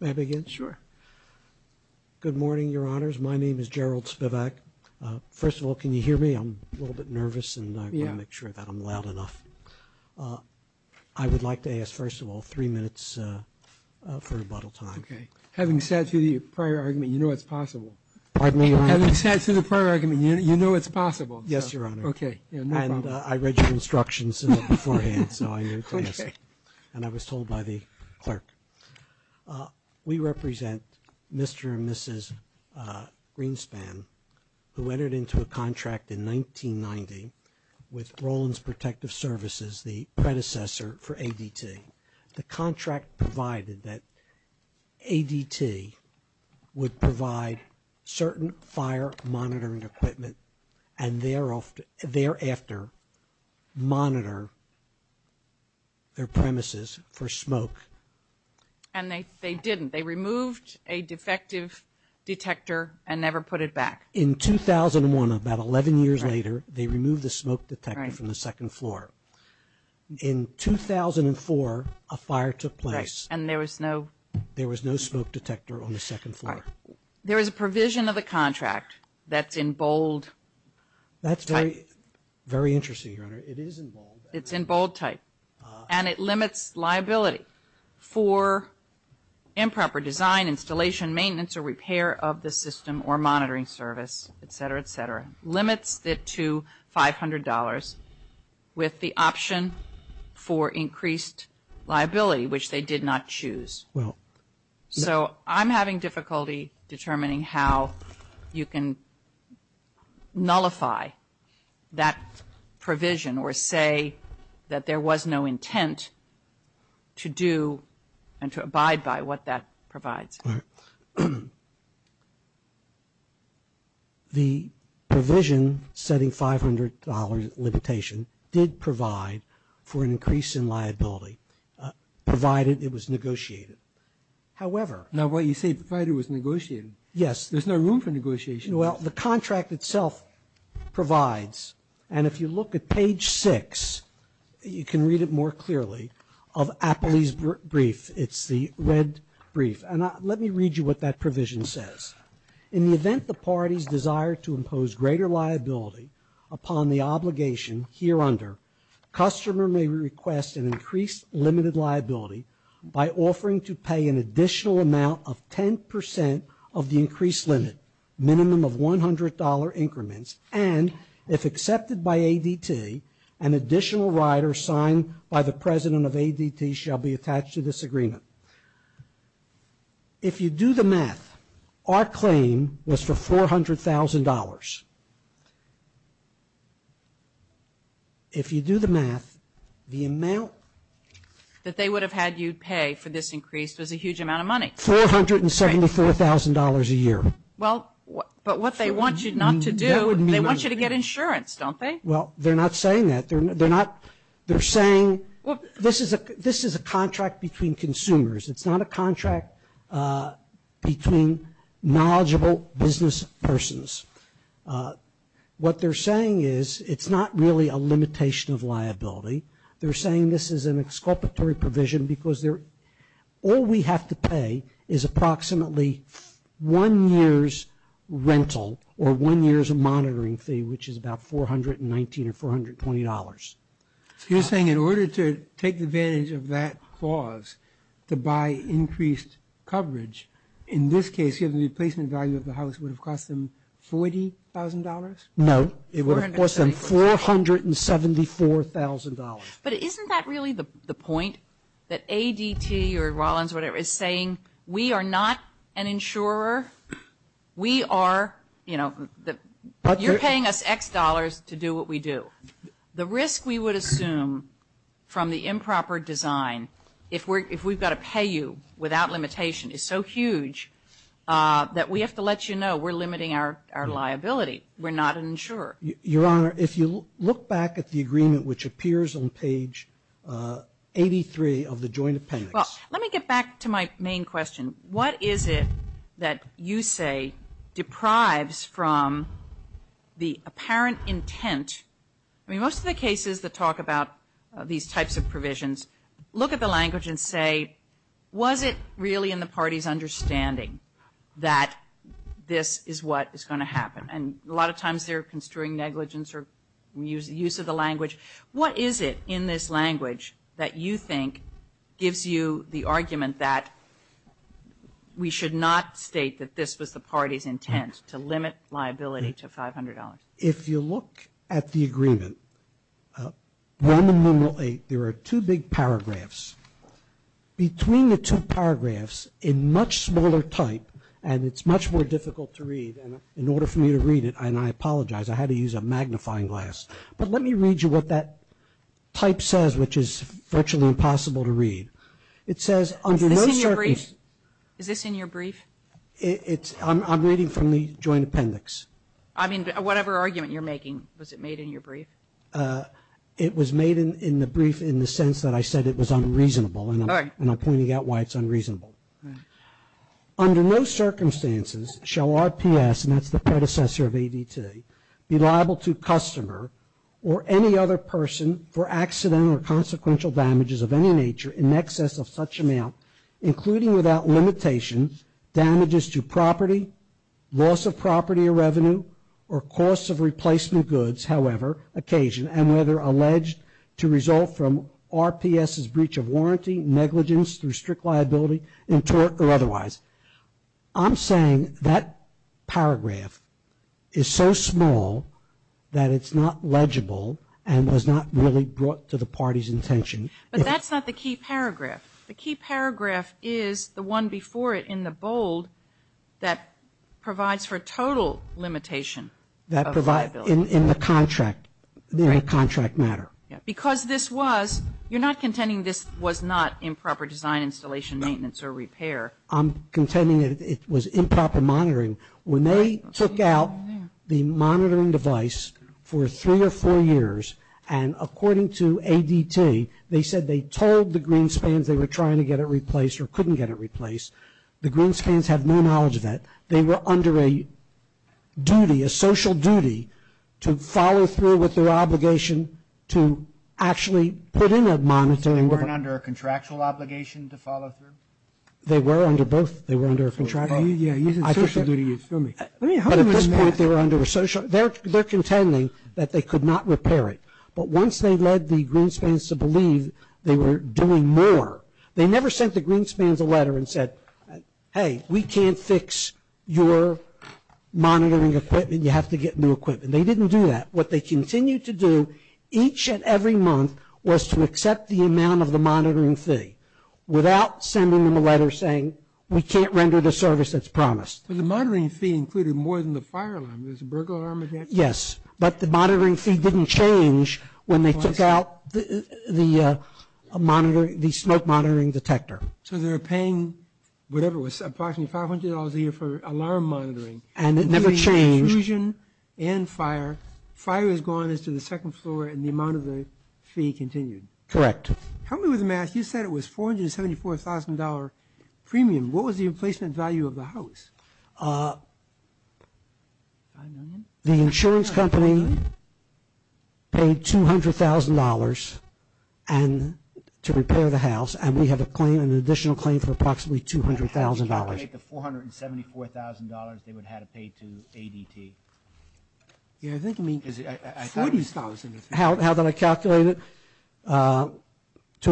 May I begin? Sure. Good morning, Your Honors. My name is Gerald Spivak. First of all, can you hear me? I'm a little bit nervous and I want to make sure that I'm loud enough. I would like to ask, first of all, three minutes for rebuttal time. Okay. Having sat through the prior argument, you know it's possible. Pardon me, Your Honor? Having sat through the prior argument, you know it's possible. Yes, Your Honor. Okay. No problem. And I read the instructions beforehand, so I'm going to ask. Okay. And I was told by the clerk. We represent Mr. and Mrs. Greenspan, who entered into a contract in 1990 with Rollins Protective Services, the predecessor for ADT. The contract provided that ADT would provide certain fire monitoring equipment and thereafter monitor their premises for smoke. And they didn't. They removed a defective detector and never put it back. In 2001, about 11 years later, they removed the smoke detector from the second floor. In 2004, a fire took place. And there was no smoke detector on the second floor. There is a provision of the contract that's in bold. That's very interesting, Your Honor. It is in bold. It's in bold type. And it limits liability for improper design, installation, maintenance, or repair of the system or monitoring service, et cetera, et cetera. Limits it to $500 with the option for increased liability, which they did not choose. So I'm having difficulty determining how you can nullify that provision or say that there was no intent to do and to abide by what that provides. All right. The provision setting $500 limitation did provide for an increase in liability, provided it was negotiated. However Now what you say, provided it was negotiated. Yes. There's no room for negotiation. Well, the contract itself provides. And if you look at page six, you can read it more Let me read you what that provision says. In the event the parties desire to impose greater liability upon the obligation here under, customer may request an increased limited liability by offering to pay an additional amount of 10% of the increased limit, minimum of $100 increments. And if accepted by ADT, an additional rider signed by the president of ADT shall be attached to this agreement. If you do the math, our claim was for $400,000. If you do the math, the amount That they would have had you pay for this increase was a huge amount of money. $474,000 a year. Well, but what they want you not to do, they want you to get insurance, don't they? Well, they're not saying that. They're not, they're saying this is a, this is a contract between consumers. It's not a contract between knowledgeable business persons. What they're saying is it's not really a limitation of liability. They're saying this is an exculpatory provision because they're, all we have to pay is approximately one year's rental or one year's monitoring fee, which is about $419 or $420. So you're saying in order to take advantage of that clause to buy increased coverage, in this case, given the placement value of the house would have cost them $40,000? No, it would have cost them $474,000. But isn't that really the point that ADT or Rollins or whatever is saying, we are not an insurer. We are, you know, you're paying us X dollars to do what we do. The risk we would assume from the improper design if we're, if we've got to pay you without limitation is so huge that we have to let you know we're limiting our liability. We're not an insurer. Your Honor, if you look back at the agreement which appears on page 83 of the joint appendix. Well, let me get back to my main question. What is it that you say deprives from the apparent intent? I mean, most of the cases that talk about these types of provisions look at the language and say, was it really in the party's understanding that this is what is going to happen? And a lot of times they're construing negligence or use of the language that you think gives you the argument that we should not state that this was the party's intent to limit liability to $500. If you look at the agreement, 1 and numeral 8, there are two big paragraphs. Between the two paragraphs, a much smaller type, and it's much more difficult to read, and in order for me to read it, and I apologize, I had to use a magnifying glass. But let me read you what that type says, which is virtually impossible to read. It says, under no circumstances Is this in your brief? I'm reading from the joint appendix. I mean, whatever argument you're making, was it made in your brief? It was made in the brief in the sense that I said it was unreasonable, and I'm pointing out why it's unreasonable. Under no circumstances shall RPS, and that's the predecessor of every other person, for accidental or consequential damages of any nature in excess of such amount, including without limitation, damages to property, loss of property or revenue, or cost of replacement goods, however, occasion, and whether alleged to result from RPS's breach of warranty, negligence through strict liability, or otherwise. I'm saying that paragraph is so small that it's not legible, and was not really brought to the party's intention. But that's not the key paragraph. The key paragraph is the one before it in the bold that provides for total limitation of liability. That provides, in the contract, in the contract matter. Because this was, you're not contending this was not improper design, installation, maintenance or repair. I'm contending it was improper monitoring. When they took out the monitoring device for three or four years, and according to ADT, they said they told the Greenspans they were trying to get it replaced or couldn't get it replaced. The Greenspans have no knowledge of that. They were under a duty, a social duty, to follow through with their obligation to actually put in a monitoring report. They weren't under a contractual obligation to follow through? They were under both. They were under a contractual obligation. Yeah, using social duty, you feel me? At this point, they were under a social, they're contending that they could not repair it. But once they led the Greenspans to believe they were doing more, they never sent the Greenspans a letter and said, hey, we can't fix your monitoring equipment. You have to get new equipment. They didn't do that. What they continued to do each and every month was to accept the amount of the monitoring fee without sending them a letter saying we can't render the service that's promised. But the monitoring fee included more than the fire alarm. There was a burglar alarm against them? Yes, but the monitoring fee didn't change when they took out the smoke monitoring detector. So they were paying, whatever it was, approximately $500 a year for alarm monitoring. And it never changed. So there was confusion and fire. Fire is gone as to the second floor and the amount of the fee continued? Correct. Help me with the math. You said it was $474,000 premium. What was the emplacement value of the house? The insurance company paid $200,000 to repair the house, and we have an additional claim for approximately $200,000. How did they calculate the $474,000 they would have to pay to ADT? $40,000. How did I calculate it? To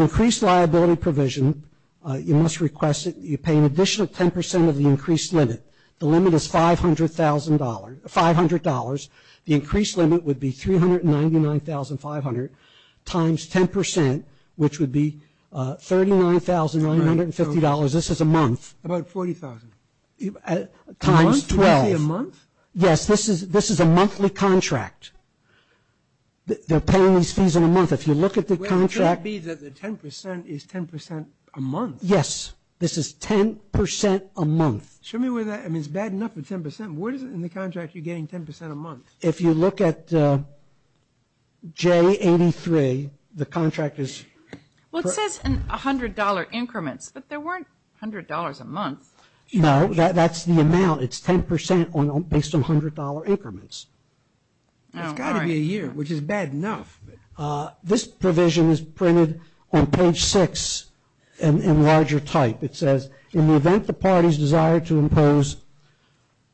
increase liability provision, you must request that you pay an additional 10% of the increased limit. The limit is $500. The increased limit would be $40,000. Times 12. A month? Yes, this is a monthly contract. They're paying these fees in a month. If you look at the contract. Well, it could be that the 10% is 10% a month. Yes, this is 10% a month. Show me where that, I mean, it's bad enough for 10%. What is it in the contract you're getting 10% a month? If you look at J83, the contract is Well, it says $100 increments, but there weren't $100 a month. No, that's the amount. It's 10% based on $100 increments. It's got to be a year, which is bad enough. This provision is printed on page 6 in larger type. It says, in the event the parties desire to impose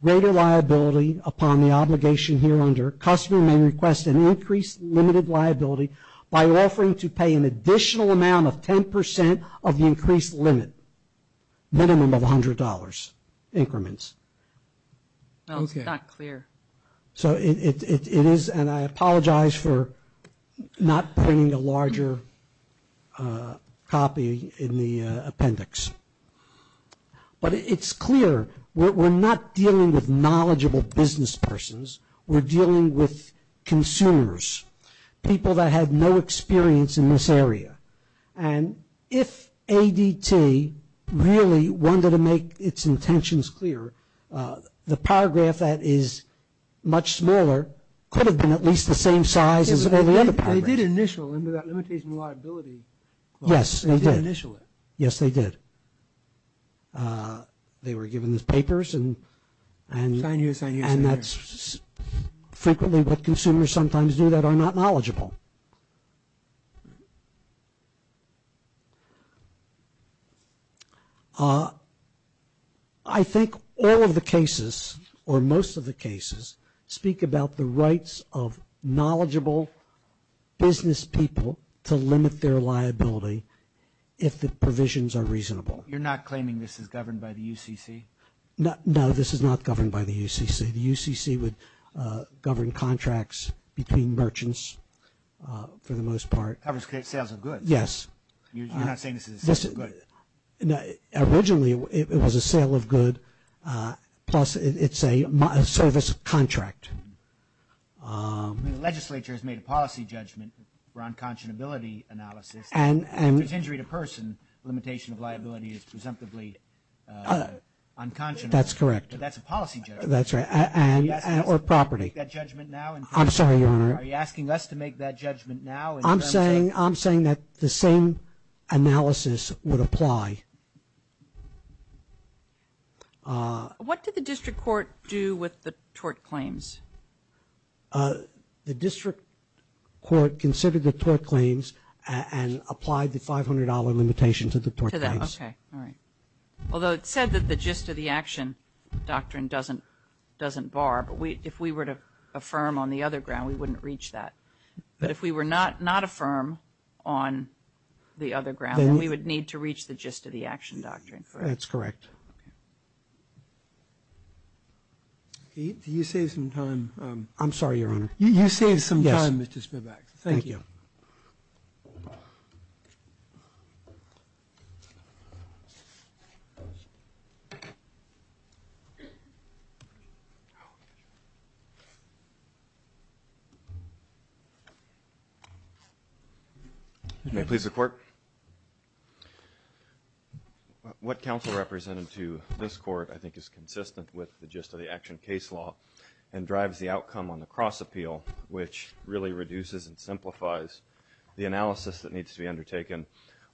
greater liability upon the obligation here under, customer may request an increased limited liability by offering to pay an additional amount of 10% of the increased limit, minimum of $100 increments. That's not clear. So it is, and I apologize for not printing a larger copy in the appendix. But it's clear we're not dealing with knowledgeable business persons. We're dealing with consumers. People that had no experience in this area. And if ADT really wanted to make its intentions clear, the paragraph that is much smaller could have been at least the same size as all the other paragraphs. They did initial into that limitation liability clause. Yes, they did. They did initial it. Yes, they did. They were given these papers and that's frequently what consumers sometimes do that are not knowledgeable. I think all of the cases or most of the cases speak about the rights of knowledgeable business people to limit their liability if the provisions are reasonable. You're not claiming this is governed by the UCC? No, this is not governed by the UCC. The UCC would govern contracts between merchants for the most part. It covers sales of goods. Yes. You're not saying this is a sale of goods? Originally it was a sale of goods plus it's a service contract. The legislature has made a policy judgment for unconscionability analysis. If it's injury to person, limitation of liability is presumptively unconscionable. That's correct. But that's a policy judgment. That's right. Or property. Are you asking us to make that judgment now? I'm sorry, Your Honor. Are you asking us to make that judgment now? I'm saying that the same analysis would apply. What did the district court do with the tort claims? The district court considered the tort claims and applied the $500 limitation to the tort claims. To that. Okay. All right. Although it said that the gist of the action doctrine doesn't bar. But if we were to affirm on the other ground, we wouldn't reach that. But if we were not affirm on the other ground, we would need to reach the gist of the action doctrine. That's correct. Okay. Do you save some time? I'm sorry, Your Honor. You save some time, Mr. Spivak. Thank you. You may please report. What counsel represented to this court, I think, is consistent with the gist of the action case law and drives the outcome on the cross appeal, which really reduces and simplifies the analysis that needs to be undertaken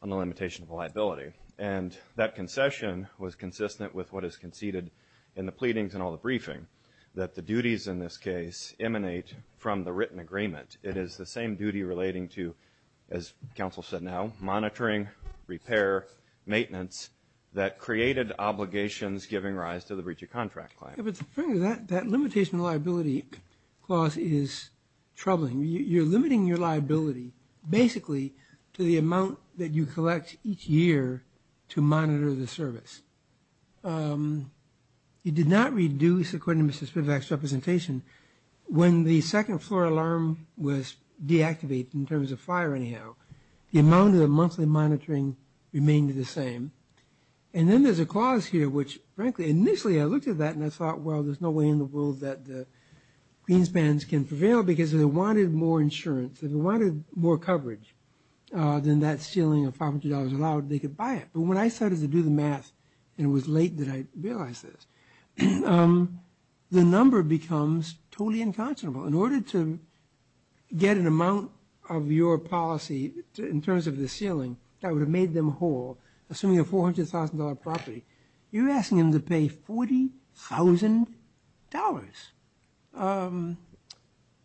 on the limitation of liability. And that concession was consistent with what is conceded in the pleadings and all the briefing, that the duties in this case emanate from the written agreement. It is the same duty relating to, as counsel said now, monitoring, repair, maintenance, that created obligations giving rise to the breach of contract claim. But the thing is, that limitation of liability clause is troubling. You're limiting your liability basically to the amount that you collect each year to monitor the service. It did not reduce, according to Mr. Spivak's representation, when the second floor alarm was deactivated in terms of fire anyhow. The amount of the monthly monitoring remained the same. And then there's a clause here which, frankly, initially I looked at that and I thought, well, there's no way in the world that the clean spans can prevail because if they wanted more insurance, if they wanted more coverage than that ceiling of $500 allowed, they could buy it. But when I started to do the math, and it was late that I realized this, the number becomes totally unconscionable. In order to get an amount of your policy in terms of the ceiling that would have made them whole, assuming a $400,000 property, you're asking them to pay $40,000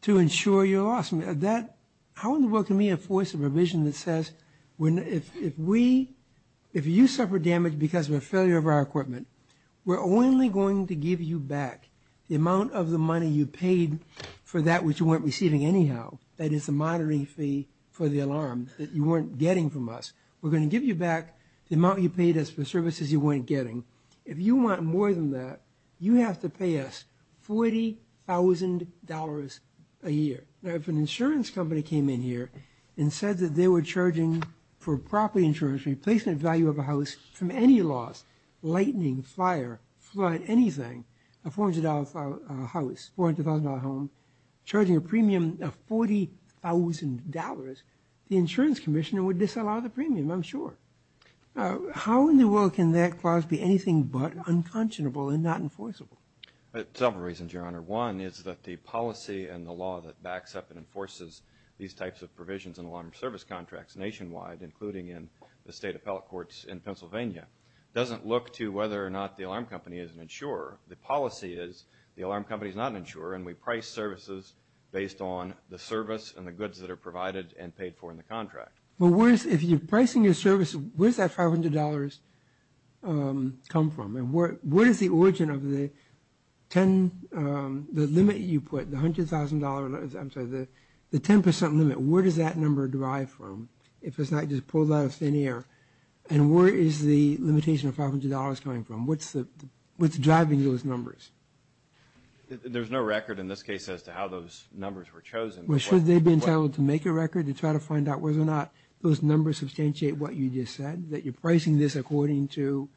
to insure your loss. How in the world can we enforce a provision that says if you suffer damage because of a failure of our equipment, we're only going to give you back the amount of the money you paid for that which you weren't receiving anyhow, that is the monitoring fee for the alarm that you weren't getting from us. We're going to give you back the amount you paid us for services you weren't getting. If you want more than that, you have to pay us $40,000 a year. If an insurance company came in here and said that they were charging for property insurance, replacement value of a house from any loss, lightning, fire, flood, anything, a $400,000 house, $400,000 home, charging a premium of $40,000, the insurance commissioner would disallow the premium, I'm sure. How in the world can that clause be anything but unconscionable and not enforceable? Several reasons, Your Honor. One is that the policy and the law that backs up and enforces these types of provisions in alarm service contracts nationwide, including in the state appellate courts in Pennsylvania, doesn't look to whether or not the alarm company is an insurer. The policy is the alarm company is not an insurer and we price services based on the service and the goods that are provided and paid for in the contract. If you're pricing a service, where does that $500 come from? Where is the origin of the limit you put, the $100,000, I'm sorry, the 10% limit, where does that number derive from if it's not just pulled out of thin air? And where is the limitation of $500 coming from? What's driving those numbers? There's no record in this case as to how those numbers were chosen. Should they be entitled to make a record to try to find out whether or not those numbers substantiate what you just said, that you're pricing this according to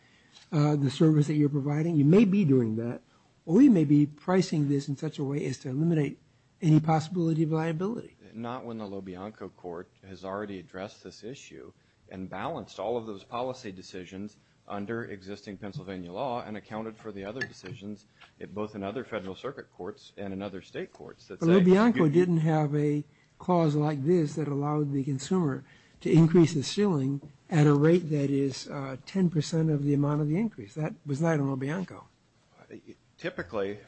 the service that you're providing? You may be doing that, or you may be pricing this in such a way as to eliminate any possibility of liability. Not when the LoBianco court has already addressed this issue and balanced all of those policy decisions under existing Pennsylvania law and accounted for the other decisions, both in other federal circuit courts and in other state courts. But LoBianco didn't have a clause like this that allowed the consumer to increase the ceiling at a rate that is 10% of the amount of the increase. That was not in LoBianco. Typically,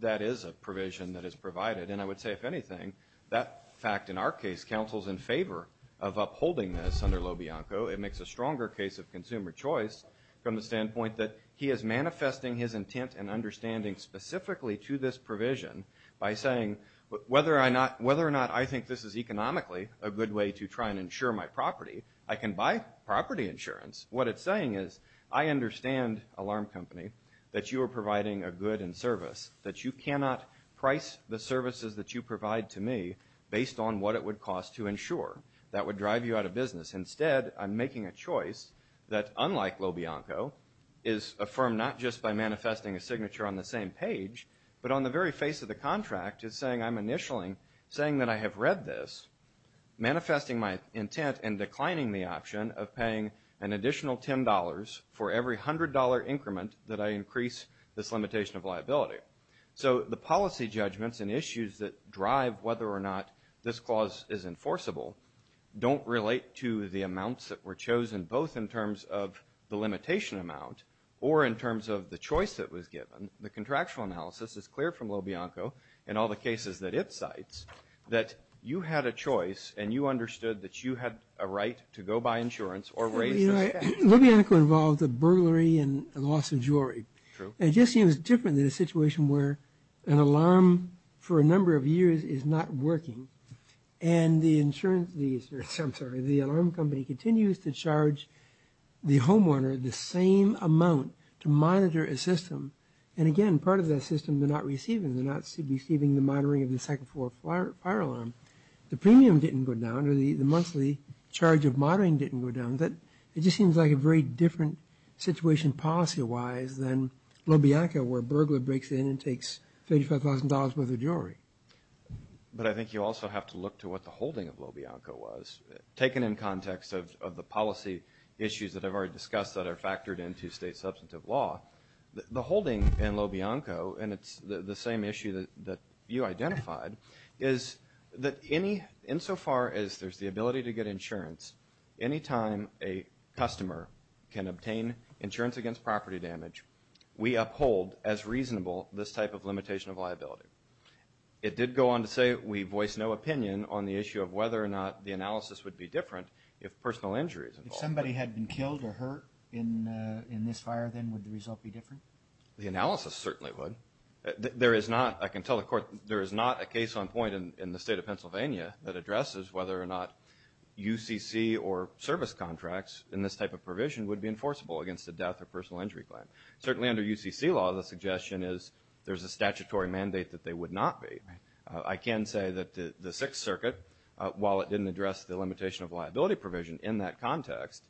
that is a provision that is provided. And I would say, if anything, that fact in our case counsels in favor of upholding this under LoBianco. It makes a stronger case of consumer choice from the standpoint that he is manifesting his intent and understanding specifically to this provision by saying, whether or not I think this is economically a good way to try and insure my property, I can buy property insurance. What it's saying is, I understand, alarm company, that you are providing a good and service. That you cannot price the services that you provide to me based on what it would cost to insure. That would drive you out of business. Instead, I'm making a choice that, unlike LoBianco, is affirmed not just by manifesting a signature on the same page, but on the very face of the contract, it's saying I'm initialing, saying that I have read this, manifesting my intent and declining the option of paying an additional $10 for every $100 increment that I increase this limitation of liability. So the policy judgments and issues that drive whether or not this clause is enforceable don't relate to the amounts that were chosen, both in terms of the limitation amount or in terms of the choice that was given. The contractual analysis is clear from LoBianco and all the cases that it cites, that you had a choice and you understood that you had a right to go buy insurance or raise the expense. LoBianco involved a burglary and a loss of jewelry. True. It just seems different in a situation where an alarm for a number of years is not working and the alarm company continues to charge the homeowner the same amount to monitor a system. And again, part of that system they're not receiving. They're not receiving the monitoring of the second floor fire alarm. The premium didn't go down or the monthly charge of monitoring didn't go down. It just seems like a very different situation policy-wise than LoBianco where a burglar breaks in and takes $35,000 worth of jewelry. But I think you also have to look to what the holding of LoBianco was. Taken in context of the policy issues that I've already discussed that are factored into state substantive law, the holding in LoBianco, and it's the same issue that you identified, is that insofar as there's the ability to get insurance, anytime a customer can obtain insurance against property damage, we uphold as reasonable this type of limitation of liability. It did go on to say, we voice no opinion on the issue of whether or not the analysis would be different if personal injury is involved. If somebody had been killed or hurt in this fire, then would the result be different? The analysis certainly would. There is not, I can tell the court, there is not a case on point in the state of Pennsylvania that addresses whether or not UCC or service contracts in this type of provision would be enforceable against a death or personal injury claim. Certainly under UCC law, the suggestion is there's a statutory mandate that they would not be. I can say that the Sixth Circuit, while it didn't address the limitation of liability provision in that context,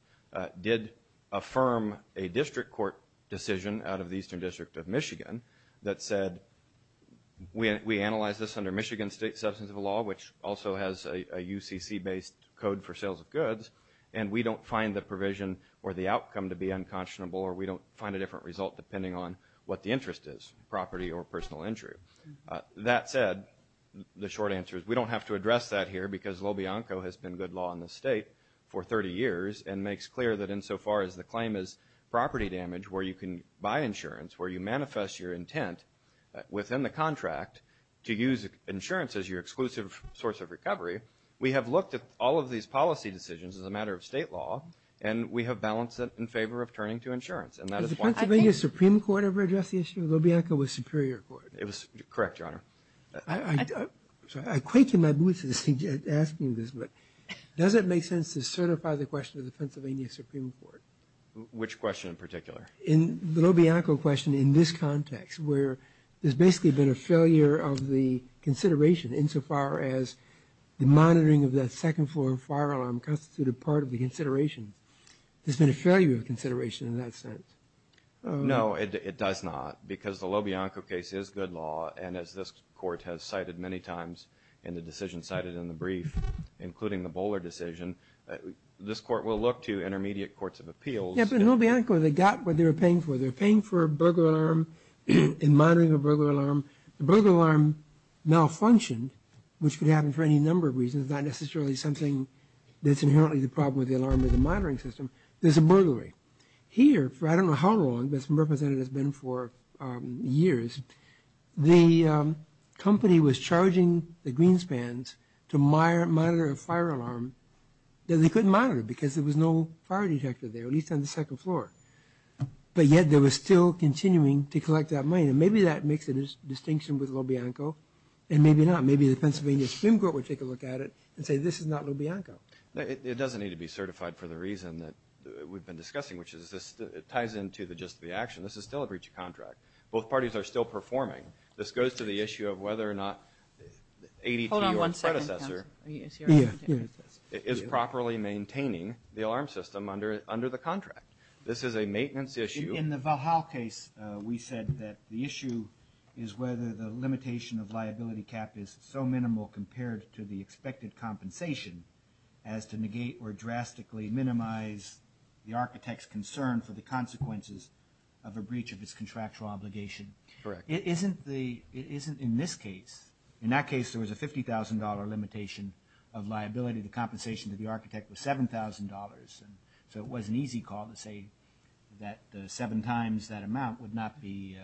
did affirm a district court decision out of the Eastern District of Michigan that said, we analyzed this under Michigan state substantive law, which also has a UCC-based code for sales of goods, and we don't find the provision or the outcome to be unconscionable, or we don't find a different result depending on what the interest is, property or personal injury. That said, the short answer is we don't have to address that here because Lobianco has been good law in this state for 30 years and makes clear that insofar as the claim is property damage, where you can buy insurance, where you manifest your intent within the contract to use insurance as your exclusive source of recovery, we have looked at all of these policy decisions as a matter of state law, and we have balanced it in favor of turning to insurance. Has the Pennsylvania Supreme Court ever addressed the issue of Lobianco with Superior Court? It was correct, Your Honor. I'm sorry, I quaked in my boots asking this, but does it make sense to certify the question of the Pennsylvania Supreme Court? Which question in particular? The Lobianco question in this context, where there's basically been a failure of the consideration insofar as the monitoring of that second floor fire alarm constituted part of the consideration. There's been a failure of consideration in that sense. No, it does not, because the Lobianco case is good law, and as this Court has cited many times in the decision cited in the brief, including the Bowler decision, this Court will look to intermediate courts of appeals. Yeah, but in Lobianco, they got what they were paying for. They were paying for a burglar alarm and monitoring a burglar alarm. The burglar alarm malfunctioned, which could happen for any number of reasons, not necessarily something that's inherently the problem with the alarm or the monitoring system. There's a burglary. Here, for I don't know how long, this representative has been for years, the company was charging the Greenspans to monitor a fire alarm that they couldn't monitor because there was no fire detector there, at least on the second floor. But yet, they were still continuing to collect that money, and maybe that makes a distinction with Lobianco, and maybe not. Maybe the Pennsylvania Supreme Court would take a look at it and say, this is not Lobianco. It doesn't need to be certified for the reason that we've been discussing, which is this ties into the gist of the action. This is still a breach of contract. Both parties are still performing. This goes to the issue of whether or not ADT or predecessor is properly maintaining the alarm system under the contract. This is a maintenance issue. In the Valhall case, we said that the issue is whether the limitation of liability cap is so minimal compared to the expected compensation as to negate or drastically minimize the architect's concern for the consequences of a breach of his contractual obligation. Correct. It isn't in this case. In that case, there was a $50,000 limitation of liability. The compensation to the architect was $7,000. So it was an easy call to say that seven times that amount would not be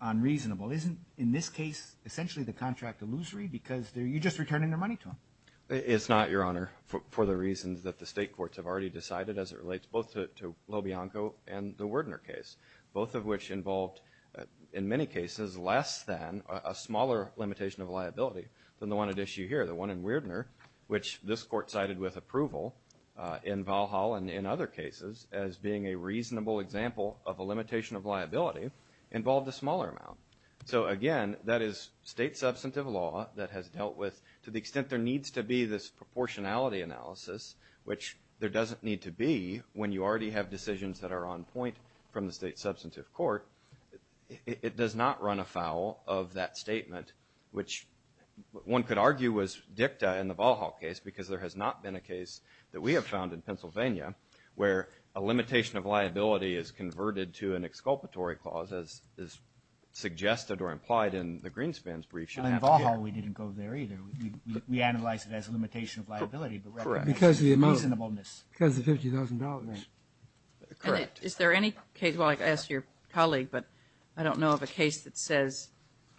unreasonable. Isn't, in this case, essentially the contract illusory because you're just returning their money to him? It's not, Your Honor, for the reasons that the state courts have already decided as it relates both to Lobianco and the Wierdner case, both of which involved, in many cases, less than a smaller limitation of liability than the one at issue here, the one in Wierdner, which this court cited with approval in Valhall and in other cases as being a reasonable example of a limitation of liability involved a smaller amount. So again, that is state substantive law that has dealt with, to the extent there needs to be this proportionality analysis, which there doesn't need to be when you already have decisions that are on point from the state substantive court. It does not run afoul of that statement, which one could argue was dicta in the Valhall case because there has not been a case that we have found in Pennsylvania where a limitation of liability is converted to an exculpatory clause as is suggested or implied in the Greenspan's brief. In Valhall, we didn't go there either. We analyzed it as a limitation of liability but recognized it as reasonableness. Because of the $50,000 rate. Correct. Is there any case, well, I asked your colleague, but I don't know of a case that says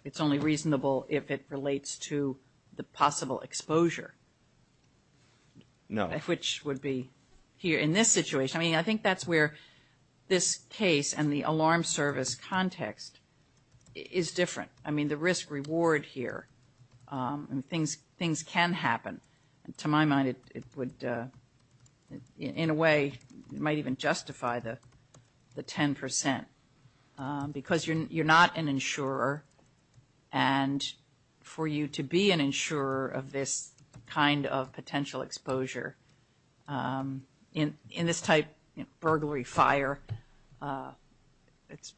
it's only reasonable if it relates to the possible exposure. No. Which would be here in this situation. I mean, I think that's where this case and the alarm service context is different. I mean, the risk reward here. Things can happen. To my mind, it would, in a way, might even justify the 10%. Because you're not an insurer and for you to be an insurer of this kind of potential exposure in this type, burglary, fire, it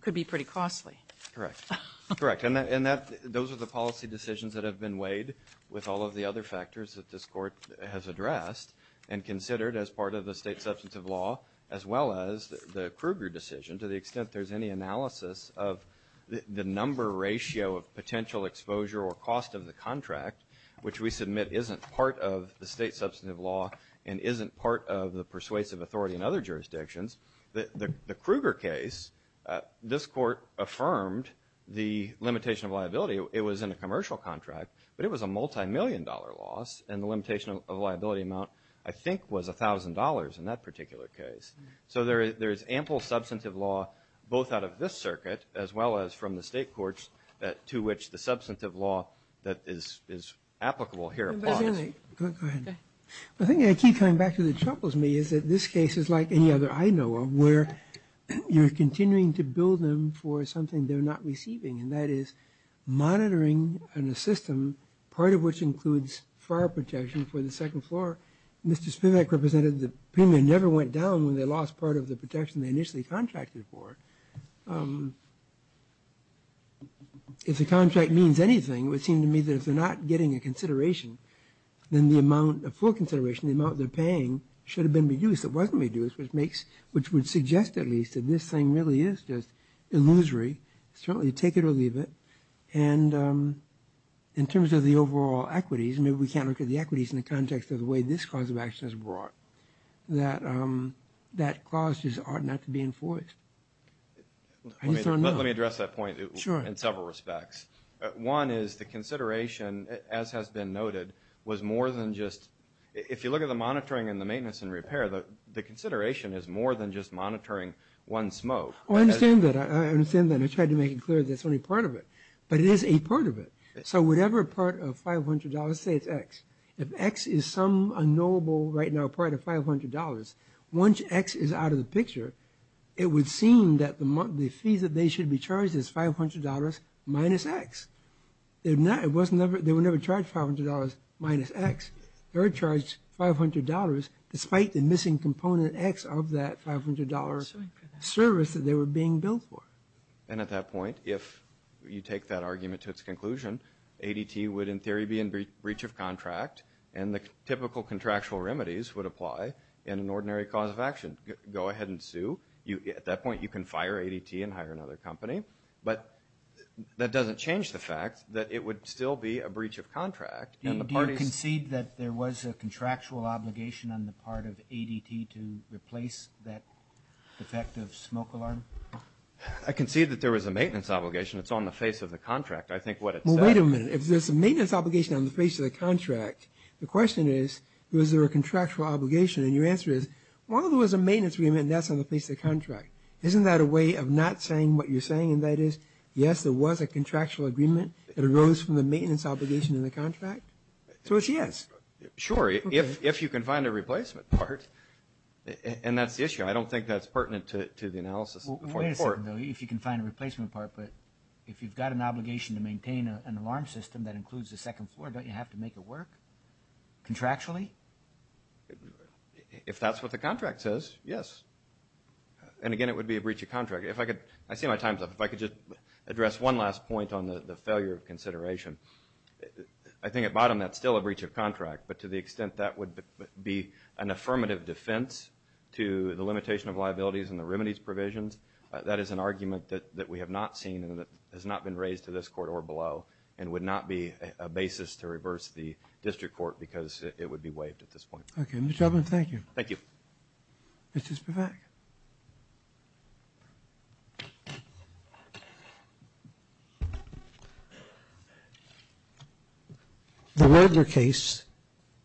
could be pretty costly. Correct. Correct. And those are the policy decisions that have been weighed with all of the other factors that this court has addressed and considered as part of the state substantive law as well as the Kruger decision to the extent there's any analysis of the number ratio of potential exposure or cost of the contract, which we submit isn't part of the state substantive law and isn't part of the persuasive authority in other jurisdictions. The Kruger case, this court affirmed the limitation of liability. It was in a commercial contract, but it was a multi-million dollar loss and the limitation of liability amount I think was $1,000 in that particular case. So there is ample substantive law both out of this circuit as well as from the state courts to which the substantive law that is applicable here applies. Go ahead. The thing I keep coming back to that troubles me is that this case is like any other I know of where you're continuing to bill them for something they're not receiving and that is monitoring in a system part of which includes fire protection for the second floor. Mr. Spivak represented the premium never went down when they lost part of the protection they initially contracted for. If the contract means anything it would seem to me that if they're not getting a consideration then the amount a full consideration the amount they're paying should have been reduced it wasn't reduced which would suggest at least that this thing really is just illusory certainly take it or leave it and in terms of the overall equities maybe we can't look at the equities in the context of the way this cause of action is brought that that clause just ought not to be enforced. Let me address that point in several respects. One is the consideration as has been noted was more than just if you look at the monitoring and the maintenance and repair the consideration is more than just monitoring one smoke. I understand that I understand that I tried to make it clear that's only part of it but it is a part of it so whatever part of $500 say it's X if X is some unknowable right now part of $500 once X is out of the picture it would seem that the fee that they should be charged is $500 minus X they were never charged $500 minus X they were charged $500 despite the missing component X of that $500 service that they were being billed for. And at that point if you take that argument to its conclusion ADT would in theory be in breach of contract and the typical contractual remedies would apply in an ordinary cause of action. at that point you can fire ADT and hire another company but that doesn't change the fact that it would still be a breach of contract and the parties Do you concede that there was a contractual obligation on the part of ADT to replace that defective smoke alarm? I concede that there was a maintenance obligation it's on the face of the contract I think what it says Well wait a minute if there's a maintenance obligation on the face of the contract the question is was there a contractual obligation and your answer is well there was a maintenance agreement and that's on the face of the contract isn't that a way of not saying what you're saying and that is yes there was a contractual agreement that arose from the maintenance obligation in the contract so it's yes Sure if you can find a replacement part and that's the issue I don't think that's pertinent to the analysis Wait a second if you can find a replacement part but if you've got an obligation to maintain an alarm system that includes the second floor don't you have to make it work contractually If that's what the contract says yes and again it would be a breach of contract if I could I see my time's up if I could just address one last point on the failure of consideration I think at bottom that's still a breach of contract but to the extent that would be an affirmative defense to the limitation of liabilities and the remedies provisions that is an argument that we have not seen and that has not been raised to this court or below and would not be a basis to reverse the district court because it would be waived at this point Okay Mr. Tubman thank you Thank you Mr. Spivak The Wedner case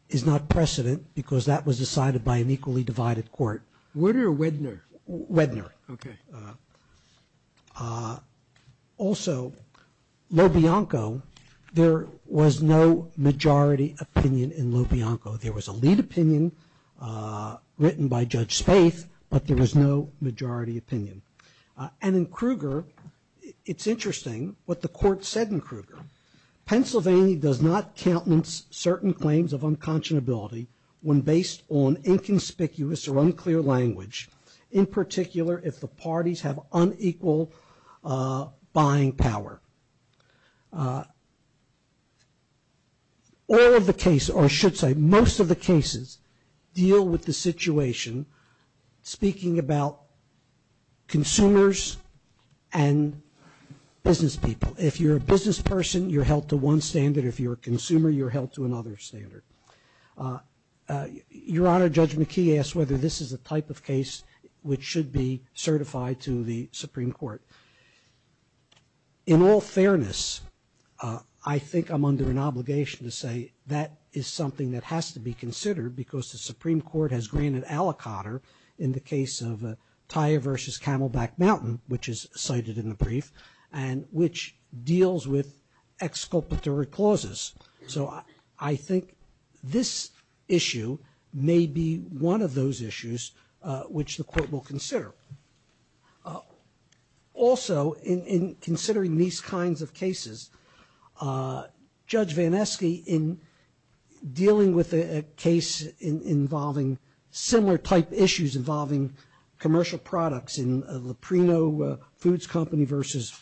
is not precedent because that was decided by an equally divided court What are Wedner Wedner Wedner Okay Also Lo Bianco there was no majority opinion in Lo Bianco there was a lead opinion written by Judge Spaeth but there was no majority opinion and in Kruger it's interesting what the court said in Kruger Pennsylvania does not countenance certain claims of unconscionability when based on inconspicuous or unclear language in particular if the parties have unequal buying power All of the cases or I should say most of the cases deal with the situation speaking about consumers and business people if you're a business person you're held to one standard if you're a consumer you're held to another standard Your Honor Judge McKee asked whether this is a type of case which should be certified to the Supreme Court In all fairness I think I'm under an obligation to say that is something that has to be considered because the Supreme Court has granted aliquotter in the case of Tire vs. Camelback Mountain which is cited in the brief and which deals with exculpatory clauses so I think this issue may be one of those issues which the court will consider Also in considering these kinds of cases Judge Vanesky in dealing with a case involving similar type issues involving commercial products in Leprino Foods Company vs.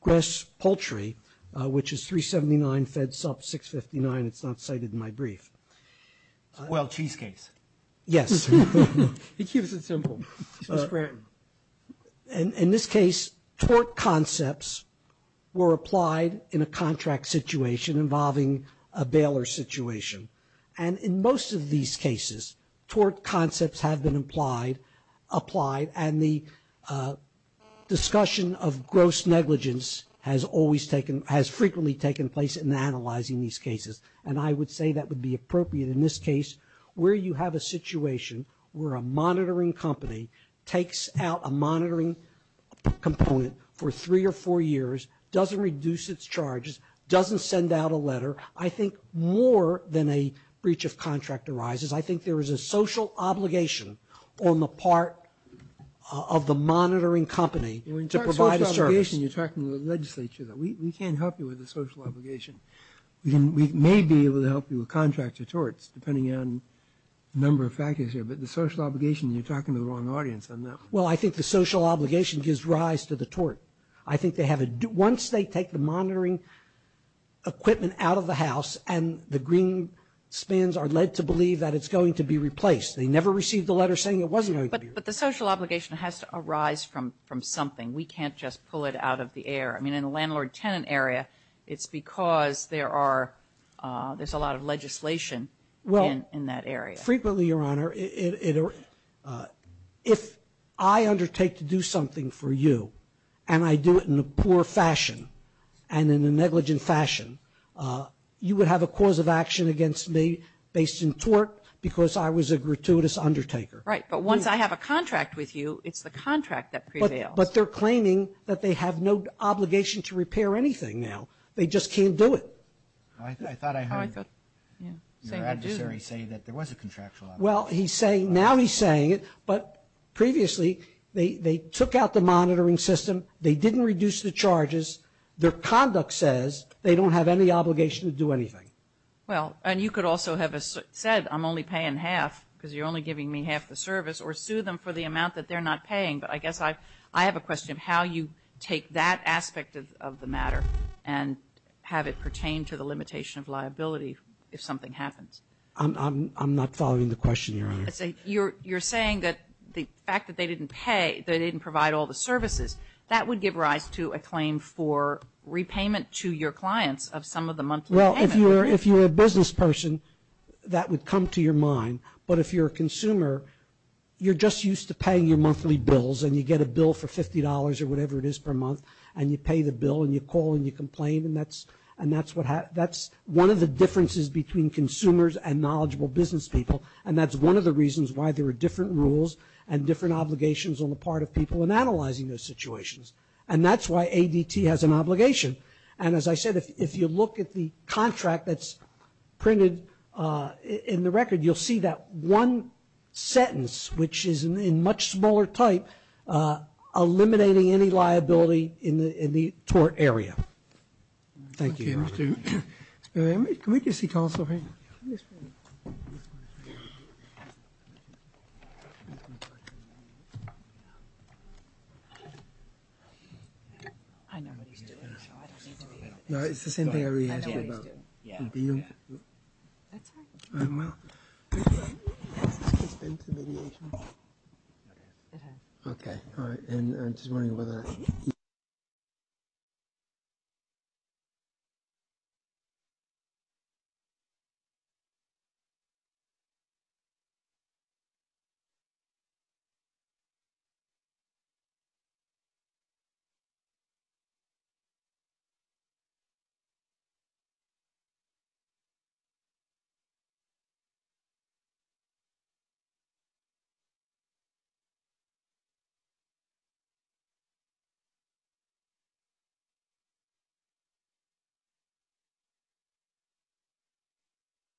Grass Poultry which is $3.79 FedSup $6.59 It's not cited in my brief Well Cheese Case Yes He keeps it simple In this case tort concepts were applied in a contract situation involving a bailer situation and in most of these cases tort concepts have been applied and the discussion of gross negligence has always taken has frequently taken place in analyzing these cases and I would say that would be appropriate in this case where you have a situation where a monitoring company takes out a monitoring component for three or four years doesn't reduce its charges doesn't send out a letter I think more than a breach of contract arises I think there is a social obligation on the part of the monitoring company to provide a service You're talking to the legislature we can't help you with the social we may be able to help you with contract or torts depending on the number of factors here but the social obligation you're talking to the wrong audience Well I think the social obligation gives rise to the tort I think once they take the monitoring equipment out of the house and the green spans are led to believe that it's going to be replaced they never received a letter saying it wasn't going to be replaced If I undertake to do something for you and I do it in a poor fashion and in a negligent fashion you would have a cause of action against me based in tort because I was a gratuitous undertaker Right but once I have a contract with you it's the contract that prevails But they're claiming that they have no obligation to repair anything now they just can't do it I thought I heard your adversary say that there was a contractual obligation Well he's saying now he's saying it but previously they took out the monitoring system they didn't reduce the charges their conduct says they don't have any obligation to do anything Well and you could also have said I'm only paying half because you're only giving me half the charge and you didn't provide all the services that would give rise to a claim for repayment to your clients Well if you're a business person that would come to your office not be able to do any of those things and that's why ADT has an obligation and as I said if you look at the contract that's I know what he's doing so I don't need to be able to explain what he's doing yeah that's fine that's fine okay all right and I'm just wondering whether he he he he he they get more information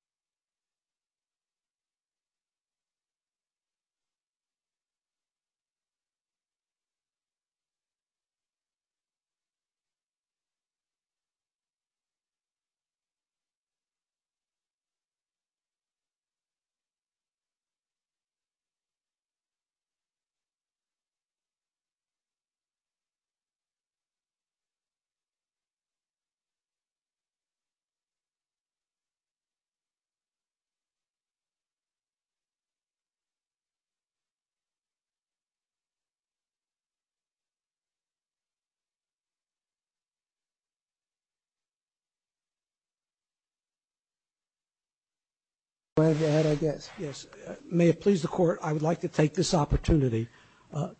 yeah my question is yes may it please the court I would like to take this opportunity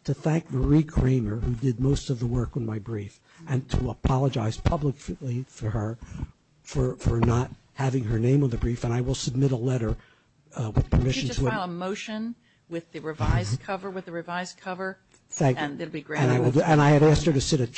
to thank Mary Kramer who did most of the work in my brief and to apologize publicly for her for not having her name on the brief and I will submit a letter with permission to file a motion with the revised cover with the revised cover thank you and it will be granted and I have asked her to sit at